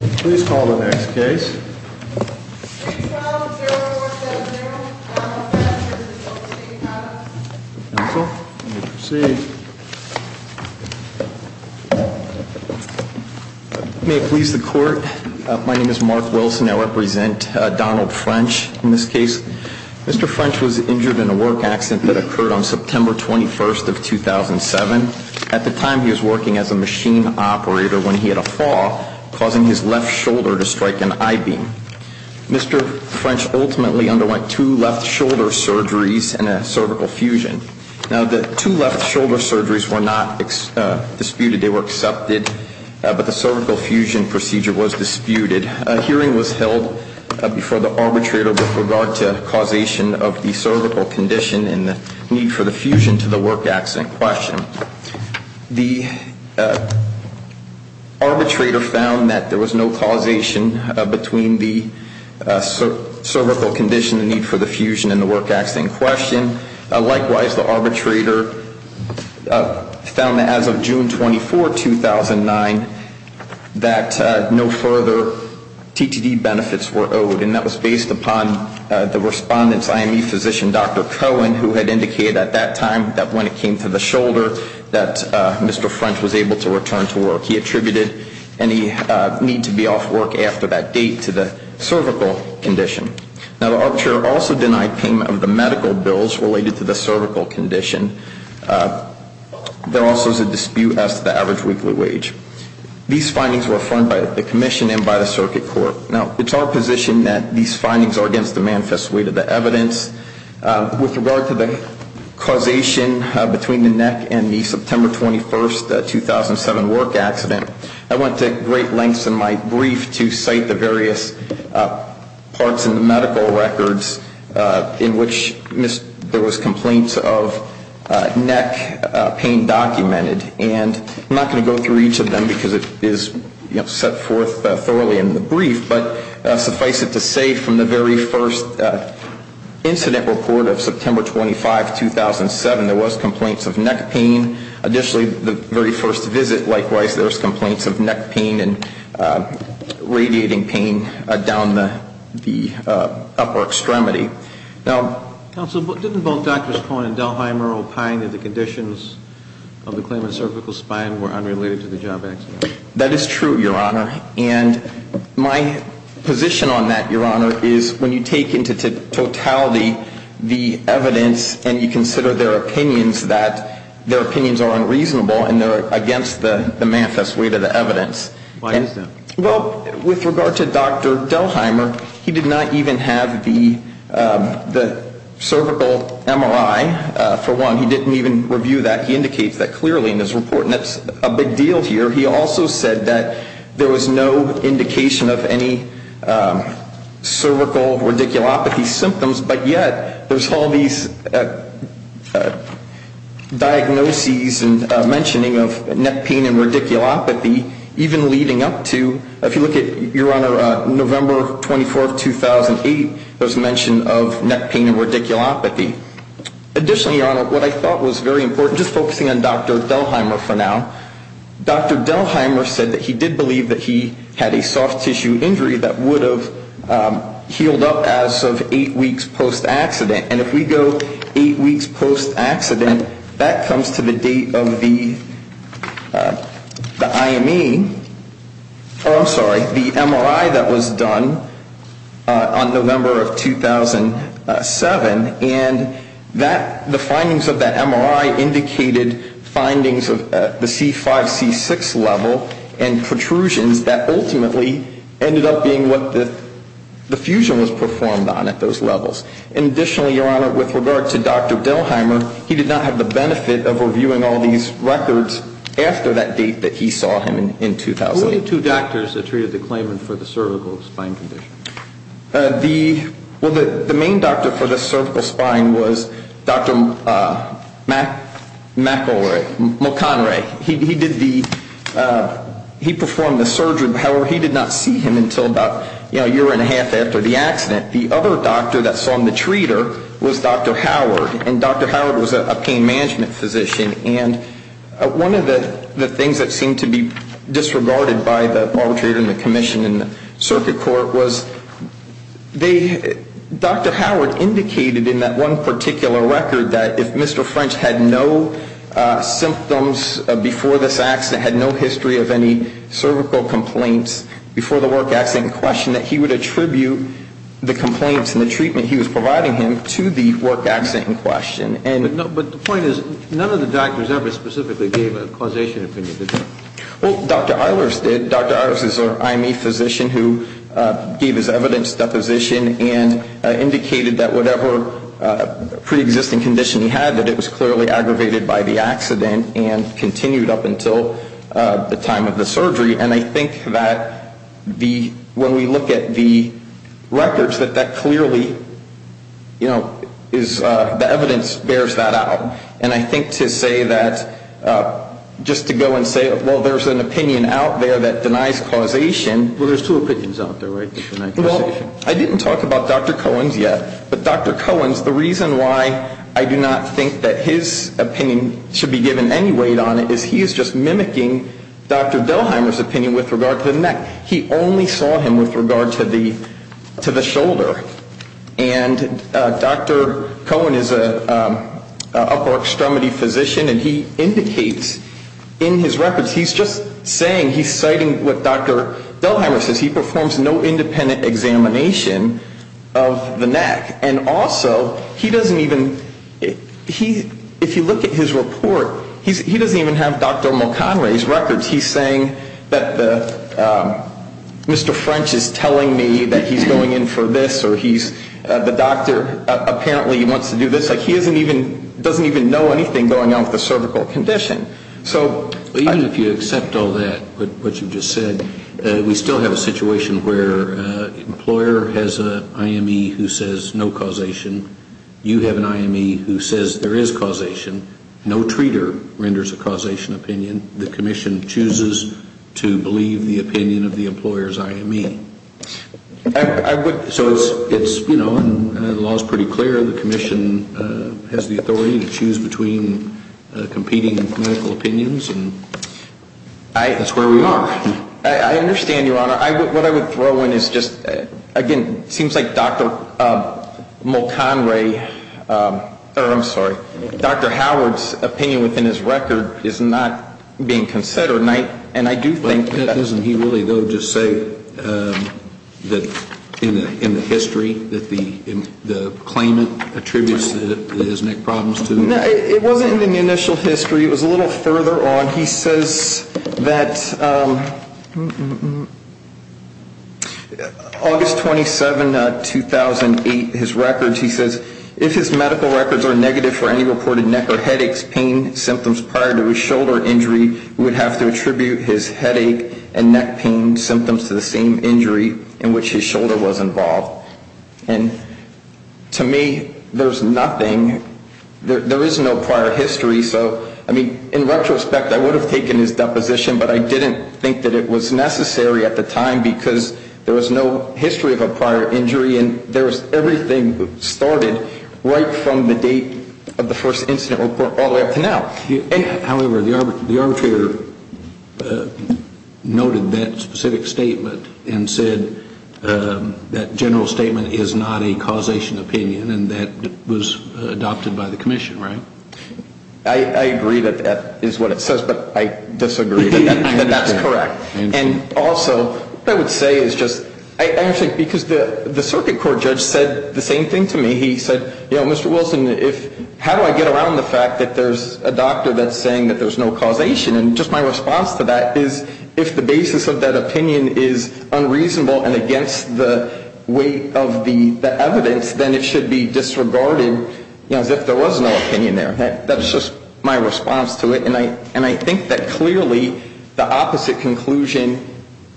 Please call the next case. 312-0470 Donald French. Counsel, you may proceed. May it please the court, my name is Mark Wilson. I represent Donald French in this case. Mr. French was injured in a work accident that occurred on September 21st of 2007. At the time, he was working as a machine operator when he had a fall, causing his left shoulder to strike an I-beam. Mr. French ultimately underwent two left shoulder surgeries and a cervical fusion. Now, the two left shoulder surgeries were not disputed. They were accepted. But the cervical fusion procedure was disputed. A hearing was held before the arbitrator with regard to causation of the cervical condition and the need for the fusion to the work accident question. The arbitrator found that there was no causation between the cervical condition and the need for the fusion in the work accident question. Likewise, the arbitrator found that as of June 24, 2009, that no further TTD benefits were owed. And that was based upon the respondent's IME physician, Dr. Cohen, who had indicated at that time that when it came to the shoulder that Mr. French was able to return to work. He attributed any need to be off work after that date to the cervical condition. Now, the arbitrator also denied payment of the medical bills related to the cervical condition. There also is a dispute as to the average weekly wage. These findings were affirmed by the commission and by the circuit court. Now, it's our position that these findings are against the manifest weight of the evidence. With regard to the causation between the neck and the September 21, 2007, work accident, I went to great lengths in my brief to cite the various parts in the medical records in which there was complaints of neck pain documented. And I'm not going to go through each of them because it is set forth thoroughly in the brief. But suffice it to say, from the very first incident report of September 25, 2007, there was complaints of neck pain. Additionally, the very first visit, likewise, there was complaints of neck pain and radiating pain down the upper extremity. Now, Counsel, didn't both Drs. Cohen and Delheimer opine that the conditions of the claimant's cervical spine were unrelated to the job accident? That is true, Your Honor, and my position on that, Your Honor, is when you take into totality the evidence and you consider their opinions that their opinions are unreasonable and they're against the manifest weight of the evidence. Why is that? Well, with regard to Dr. Delheimer, he did not even have the cervical MRI, for one. He didn't even review that. He indicates that clearly in his report, and that's a big deal here. He also said that there was no indication of any cervical radiculopathy symptoms, but yet there's all these diagnoses and mentioning of neck pain and radiculopathy, even leading up to, if you look at, Your Honor, November 24, 2008, there was mention of neck pain and radiculopathy. Additionally, Your Honor, what I thought was very important, just focusing on Dr. Delheimer for now, Dr. Delheimer said that he did believe that he had a soft tissue injury that would have healed up as of eight weeks post-accident. And if we go eight weeks post-accident, that comes to the date of the IME, oh, I'm sorry, the MRI that was done on November of 2007, and the findings of that MRI indicated findings of the C5-C6 level and protrusions that ultimately ended up being what the fusion was performed on at those levels. And additionally, Your Honor, with regard to Dr. Delheimer, he did not have the benefit of reviewing all these records after that date that he saw him in 2008. Who were the two doctors that treated the claimant for the cervical spine condition? The, well, the main doctor for the cervical spine was Dr. McElroy, McElroy. He did the, he performed the surgery, however, he did not see him until about, you know, a year and a half after the accident. The other doctor that saw him, the treater, was Dr. Howard, and Dr. Howard was a pain management physician. And one of the things that seemed to be disregarded by the arbitrator and the commission and the circuit court was they, Dr. Howard indicated in that one particular record that if Mr. French had no symptoms before this accident, had no history of any cervical complaints before the work accident in question, that he would attribute the complaints and the treatment he was providing him to the work accident in question. But the point is, none of the doctors ever specifically gave a causation opinion, did they? Well, Dr. Eilers did. Dr. Eilers is an IME physician who gave his evidence deposition and indicated that whatever preexisting condition he had, that it was clearly aggravated by the accident and continued up until the time of the surgery. And I think that the, when we look at the records, that that clearly, you know, is, the evidence bears that out. And I think to say that, just to go and say, well, there's an opinion out there that denies causation. Well, there's two opinions out there, right, that deny causation. Well, I didn't talk about Dr. Cohen's yet, but Dr. Cohen's, the reason why I do not think that his opinion should be given any weight on it is he is just mimicking Dr. Delheimer's opinion with regard to the neck. He only saw him with regard to the shoulder. And Dr. Cohen is an upper extremity physician, and he indicates in his records, he's just saying, he's citing what Dr. Delheimer says, he performs no independent examination of the neck. And also, he doesn't even, he, if you look at his report, he doesn't even have Dr. Mulconry's records. He's saying that the, Mr. French is telling me that he's going in for this, or he's, the doctor apparently wants to do this. Like, he doesn't even know anything going on with the cervical condition. Even if you accept all that, what you've just said, we still have a situation where an employer has an IME who says no causation. You have an IME who says there is causation. No treater renders a causation opinion. The commission chooses to believe the opinion of the employer's IME. So it's, you know, the law is pretty clear. The commission has the authority to choose between competing medical opinions, and that's where we are. I understand, Your Honor. What I would throw in is just, again, it seems like Dr. Mulconry, or I'm sorry, Dr. Howard's opinion within his record is not being considered. And I do think that. Doesn't he really, though, just say that in the history that the claimant attributes his neck problems to? No, it wasn't in the initial history. It was a little further on. He says that August 27, 2008, his records, he says, that if for any reported neck or headaches, pain symptoms prior to a shoulder injury, would have to attribute his headache and neck pain symptoms to the same injury in which his shoulder was involved. And to me, there's nothing, there is no prior history. So, I mean, in retrospect, I would have taken his deposition, but I didn't think that it was necessary at the time because there was no history of a prior injury, and there was everything that started right from the date of the first incident report all the way up to now. However, the arbitrator noted that specific statement and said that general statement is not a causation opinion, and that was adopted by the commission, right? I agree that that is what it says, but I disagree that that's correct. And also, what I would say is just, actually, because the circuit court judge said the same thing to me. He said, you know, Mr. Wilson, how do I get around the fact that there's a doctor that's saying that there's no causation? And just my response to that is if the basis of that opinion is unreasonable and against the weight of the evidence, then it should be disregarded as if there was no opinion there. That's just my response to it. And I think that clearly the opposite conclusion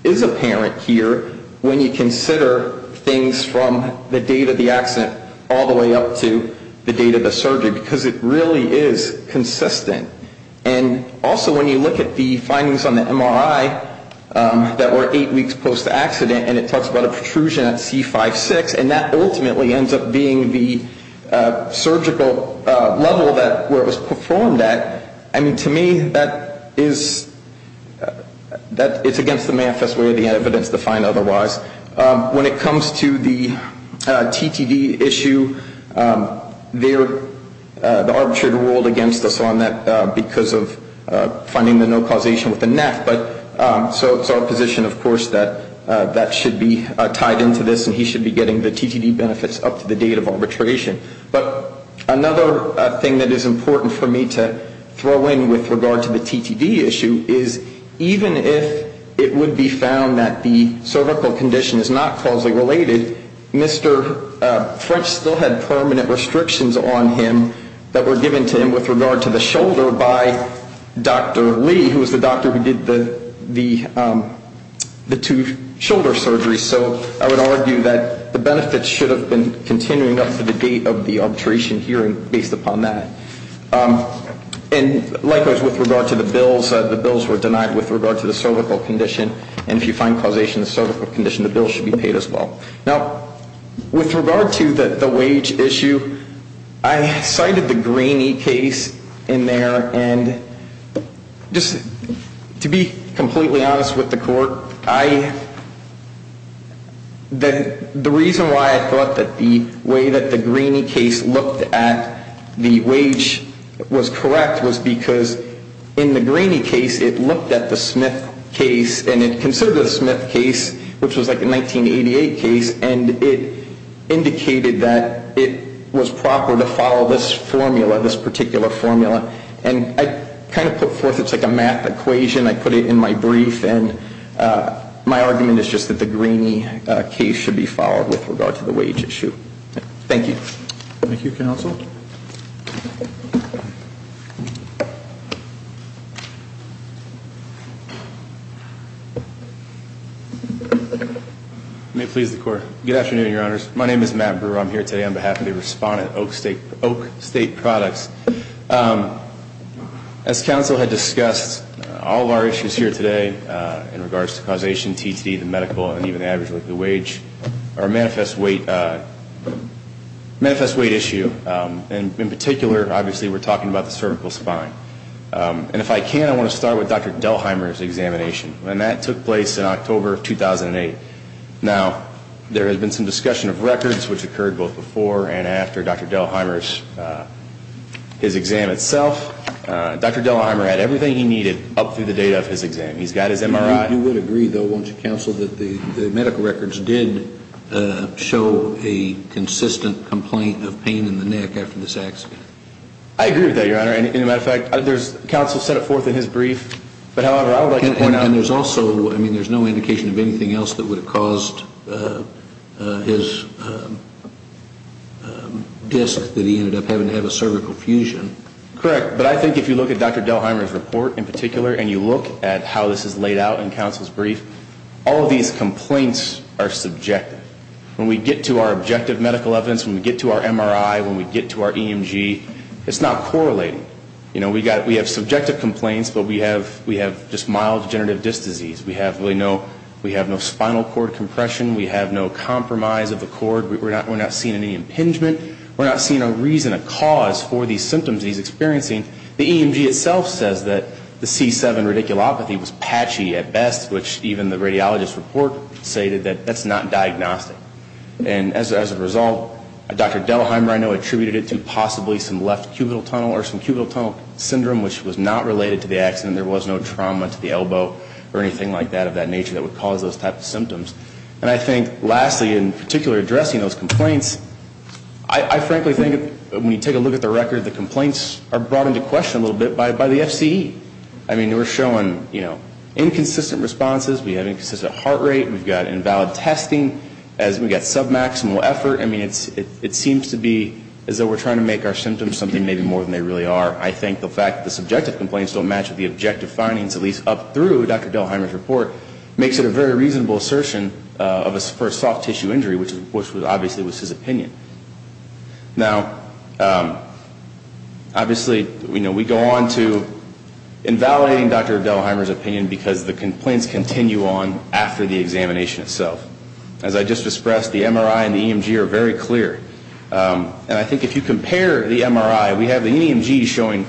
is apparent here when you consider things from the date of the accident all the way up to the date of the surgery, because it really is consistent. And also, when you look at the findings on the MRI that were eight weeks post-accident, and it talks about a protrusion at C5-6, and that ultimately ends up being the surgical level where it was performed at, I mean, to me that is against the manifest way of the evidence to find otherwise. When it comes to the TTD issue, the arbitrator ruled against us on that because of finding the no causation with the NAF. So it's our position, of course, that that should be tied into this, and he should be getting the TTD benefits up to the date of arbitration. But another thing that is important for me to throw in with regard to the TTD issue is, even if it would be found that the cervical condition is not causally related, Mr. French still had permanent restrictions on him that were given to him with regard to the shoulder by Dr. Lee, who was the doctor who did the two shoulder surgeries. So I would argue that the benefits should have been continuing up to the date of the arbitration hearing based upon that. And likewise, with regard to the bills, the bills were denied with regard to the cervical condition, and if you find causation in the cervical condition, the bill should be paid as well. Now, with regard to the wage issue, I cited the Graney case in there, and just to be completely honest with the court, the reason why I thought that the way that the Graney case looked at the wage was correct was because in the Graney case, it looked at the Smith case, and it considered the Smith case, which was like a 1988 case, and it indicated that it was proper to follow this formula, this particular formula. And I kind of put forth it's like a math equation. I put it in my brief, and my argument is just that the Graney case should be followed with regard to the wage issue. Thank you. Thank you, Counsel. May it please the Court. Good afternoon, Your Honors. My name is Matt Brewer. I'm here today on behalf of the Respondent Oak State Products. As Counsel had discussed, all of our issues here today in regards to causation, TTD, the medical, and even the average wage are a manifest weight issue, and in particular, obviously, we're talking about the cervical spine. And if I can, I want to start with Dr. Delheimer's examination, and that took place in October of 2008. Now, there has been some discussion of records, which occurred both before and after Dr. Delheimer's exam itself. Dr. Delheimer had everything he needed up through the date of his exam. He's got his MRI. You would agree, though, won't you, Counsel, that the medical records did show a consistent complaint of pain in the neck after this accident? I agree with that, Your Honor. As a matter of fact, Counsel set it forth in his brief. And there's also, I mean, there's no indication of anything else that would have caused his disc that he ended up having to have a cervical fusion. Correct, but I think if you look at Dr. Delheimer's report in particular and you look at how this is laid out in Counsel's brief, all of these complaints are subjective. When we get to our objective medical evidence, when we get to our MRI, when we get to our EMG, it's not correlating. You know, we have subjective complaints, but we have just mild degenerative disc disease. We have no spinal cord compression. We have no compromise of the cord. We're not seeing any impingement. We're not seeing a reason, a cause for these symptoms that he's experiencing. The EMG itself says that the C7 radiculopathy was patchy at best, which even the radiologist's report stated that that's not diagnostic. And as a result, Dr. Delheimer, I know, attributed it to possibly some left cubital tunnel or some cubital tunnel syndrome, which was not related to the accident. There was no trauma to the elbow or anything like that of that nature that would cause those types of symptoms. And I think, lastly, in particular addressing those complaints, I frankly think when you take a look at the record, the complaints are brought into question a little bit by the FCE. I mean, they were showing, you know, inconsistent responses. We have inconsistent heart rate. We've got invalid testing. We've got submaximal effort. I mean, it seems to be as though we're trying to make our symptoms something maybe more than they really are. I think the fact that the subjective complaints don't match with the objective findings, at least up through Dr. Delheimer's report, makes it a very reasonable assertion for a soft tissue injury, which obviously was his opinion. Now, obviously, you know, we go on to invalidating Dr. Delheimer's opinion because the complaints continue on after the examination itself. As I just expressed, the MRI and the EMG are very clear. And I think if you compare the MRI, we have the EMG showing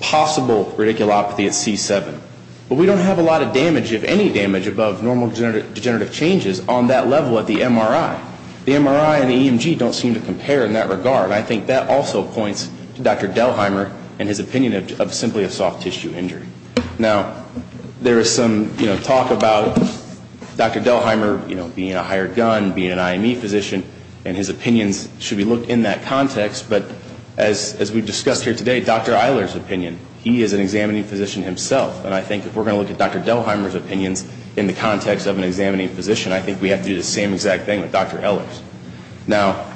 possible radiculopathy at C7. But we don't have a lot of damage, if any damage, above normal degenerative changes on that level at the MRI. The MRI and the EMG don't seem to compare in that regard. And I think that also points to Dr. Delheimer and his opinion of simply a soft tissue injury. Now, there is some, you know, talk about Dr. Delheimer, you know, being a higher gun, being an IME physician, and his opinions should be looked in that context. But as we've discussed here today, Dr. Eiler's opinion, he is an examining physician himself. And I think if we're going to look at Dr. Delheimer's opinions in the context of an examining physician, I think we have to do the same exact thing with Dr. Eiler's. Now,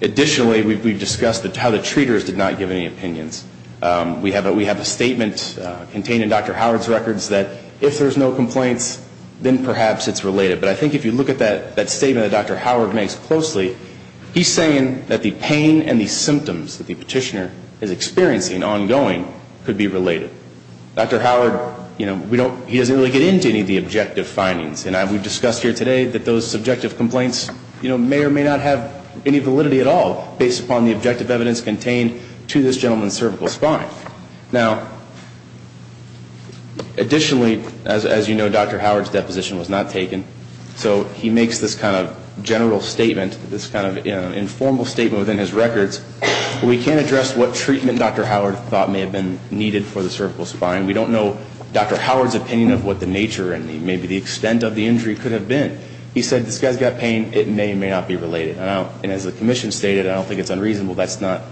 additionally, we've discussed how the treaters did not give any opinions. We have a statement contained in Dr. Howard's records that if there's no complaints, then perhaps it's related. But I think if you look at that statement that Dr. Howard makes closely, he's saying that the pain and the symptoms that the petitioner is experiencing ongoing could be related. Dr. Howard, you know, he doesn't really get into any of the objective findings. And we've discussed here today that those subjective complaints, you know, may or may not have any validity at all based upon the objective evidence contained to this gentleman's cervical spine. Now, additionally, as you know, Dr. Howard's deposition was not taken. So he makes this kind of general statement, this kind of, you know, informal statement within his records. We can't address what treatment Dr. Howard thought may have been needed for the cervical spine. We don't know Dr. Howard's opinion of what the nature and maybe the extent of the injury could have been. He said, this guy's got pain. It may or may not be related. And as the commission stated, I don't think it's unreasonable. That's not,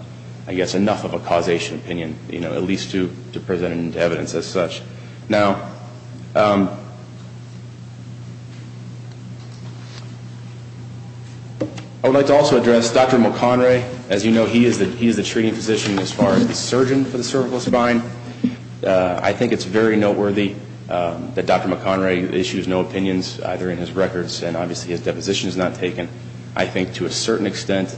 I guess, enough of a causation opinion, you know, at least to present evidence as such. Now, I would like to also address Dr. McHenry. As you know, he is the treating physician as far as the surgeon for the cervical spine. I think it's very noteworthy that Dr. McHenry issues no opinions either in his records, and obviously his deposition is not taken. I think to a certain extent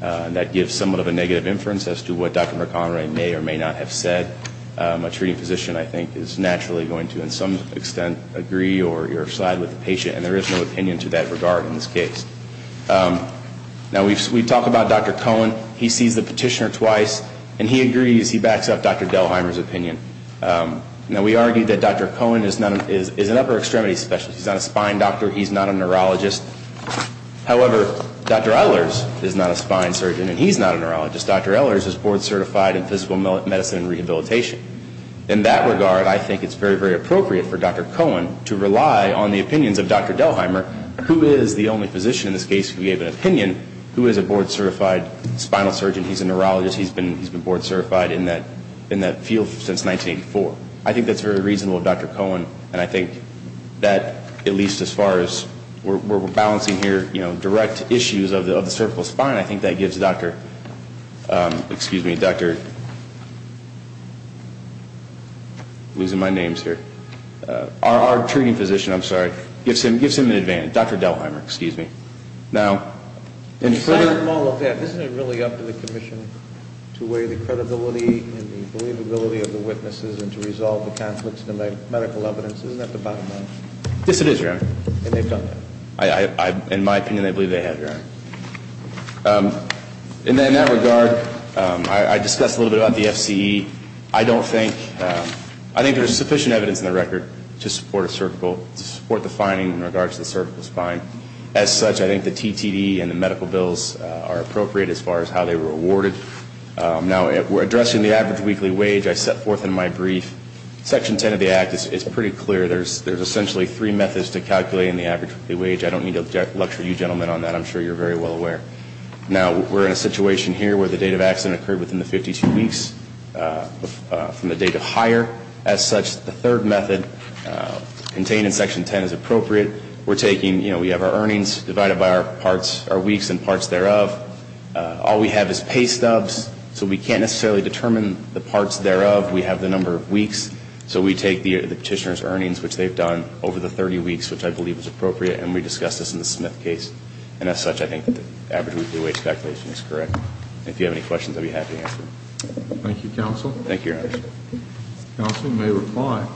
that gives somewhat of a negative inference as to what Dr. McHenry may or may not have said. A treating physician, I think, is naturally going to in some extent agree or side with the patient, and there is no opinion to that regard in this case. Now, we talk about Dr. Cohen. He sees the petitioner twice, and he agrees. He backs up Dr. Delheimer's opinion. Now, we argue that Dr. Cohen is an upper extremity specialist. He's not a spine doctor. He's not a neurologist. However, Dr. Ehlers is not a spine surgeon, and he's not a neurologist. Dr. Ehlers is board certified in physical medicine and rehabilitation. In that regard, I think it's very, very appropriate for Dr. Cohen to rely on the opinions of Dr. Delheimer, who is the only physician in this case who gave an opinion, who is a board certified spinal surgeon. He's a neurologist. He's been board certified in that field since 1984. I think that's very reasonable of Dr. Cohen, and I think that at least as far as we're balancing here direct issues of the cervical spine, I think that gives Dr. – excuse me, Dr. – I'm losing my names here. Our treating physician, I'm sorry, gives him an advantage. Dr. Delheimer, excuse me. Now, in – Aside from all of that, isn't it really up to the commission to weigh the credibility and the believability of the witnesses and to resolve the conflicts in the medical evidence? Isn't that the bottom line? Yes, it is, Your Honor. And they've done that? In my opinion, I believe they have, Your Honor. In that regard, I discussed a little bit about the FCE. I don't think – I think there's sufficient evidence in the record to support a cervical – to support the finding in regards to the cervical spine. As such, I think the TTD and the medical bills are appropriate as far as how they were awarded. Now, we're addressing the average weekly wage. I set forth in my brief Section 10 of the Act. It's pretty clear. There's essentially three methods to calculating the average weekly wage. I don't need to lecture you gentlemen on that. I'm sure you're very well aware. Now, we're in a situation here where the date of accident occurred within the 52 weeks from the date of hire. As such, the third method contained in Section 10 is appropriate. We're taking – you know, we have our earnings divided by our parts – our weeks and parts thereof. All we have is pay stubs, so we can't necessarily determine the parts thereof. We have the number of weeks, so we take the petitioner's earnings, which they've done over the 30 weeks, which I believe is appropriate, and we discuss this in the Smith case. And as such, I think the average weekly wage calculation is correct. If you have any questions, I'd be happy to answer them. Thank you, Counsel. Thank you, Your Honor. Counsel may reply.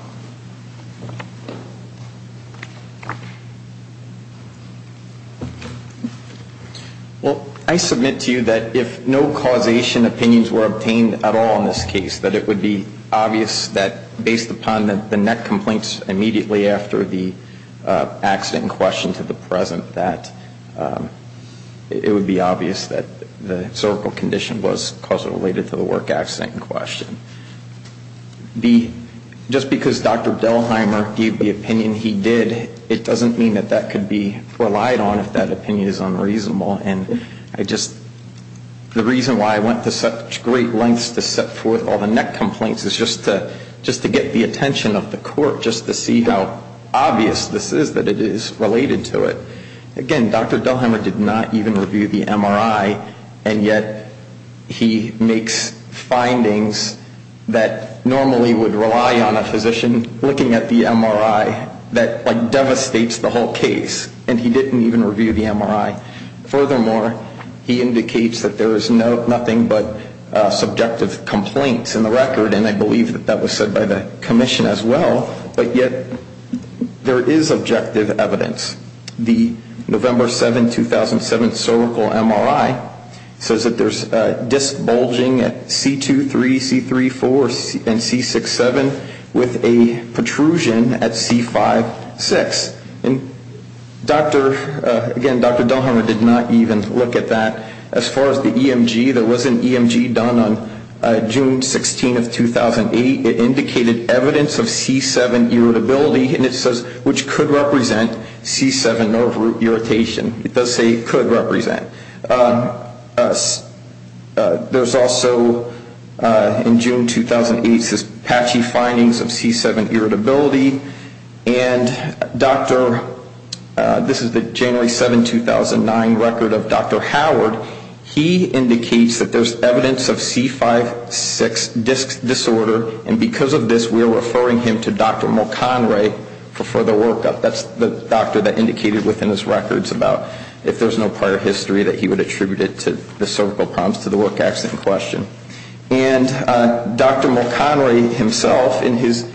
Well, I submit to you that if no causation opinions were obtained at all in this case, that it would be obvious that based upon the net complaints immediately after the accident in question to the present, that it would be obvious that the cervical condition was causal related to the work accident in question. Just because Dr. Delheimer gave the opinion he did, it doesn't mean that that could be relied on if that opinion is unreasonable. And I just – the reason why I went to such great lengths to set forth all the net complaints is just to get the attention of the court, just to see how obvious this is that it is related to it. Again, Dr. Delheimer did not even review the MRI, and yet he makes findings that normally would rely on a physician looking at the MRI that devastates the whole case, and he didn't even review the MRI. Furthermore, he indicates that there is nothing but subjective complaints in the record, and I believe that that was said by the commission as well, but yet there is objective evidence. The November 7, 2007 cervical MRI says that there's disc bulging at C23, C34, and C67 with a protrusion at C56. And Dr. – again, Dr. Delheimer did not even look at that. As far as the EMG, there was an EMG done on June 16, 2008. It indicated evidence of C7 irritability, and it says which could represent C7 nerve irritation. It does say could represent. There's also in June 2008 says patchy findings of C7 irritability, and Dr. – this is the January 7, 2009 record of Dr. Howard. He indicates that there's evidence of C56 disc disorder, and because of this we are referring him to Dr. Mulconry for further workup. That's the doctor that indicated within his records about if there's no prior history that he would attribute it to the cervical problems, to the work accident question. And Dr. Mulconry himself in his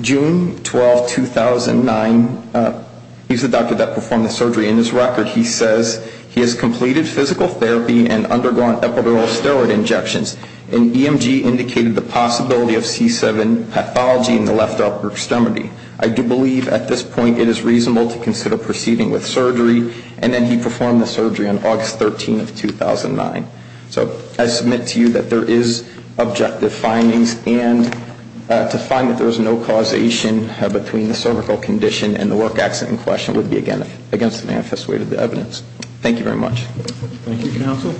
June 12, 2009 – he's the doctor that performed the surgery. In his record he says he has completed physical therapy and undergone epidural steroid injections, and EMG indicated the possibility of C7 pathology in the left upper extremity. I do believe at this point it is reasonable to consider proceeding with surgery, and then he performed the surgery on August 13, 2009. So I submit to you that there is objective findings, and to find that there is no causation between the cervical condition and the work accident question would be against the manifest way of the evidence. Thank you very much. Thank you, counsel.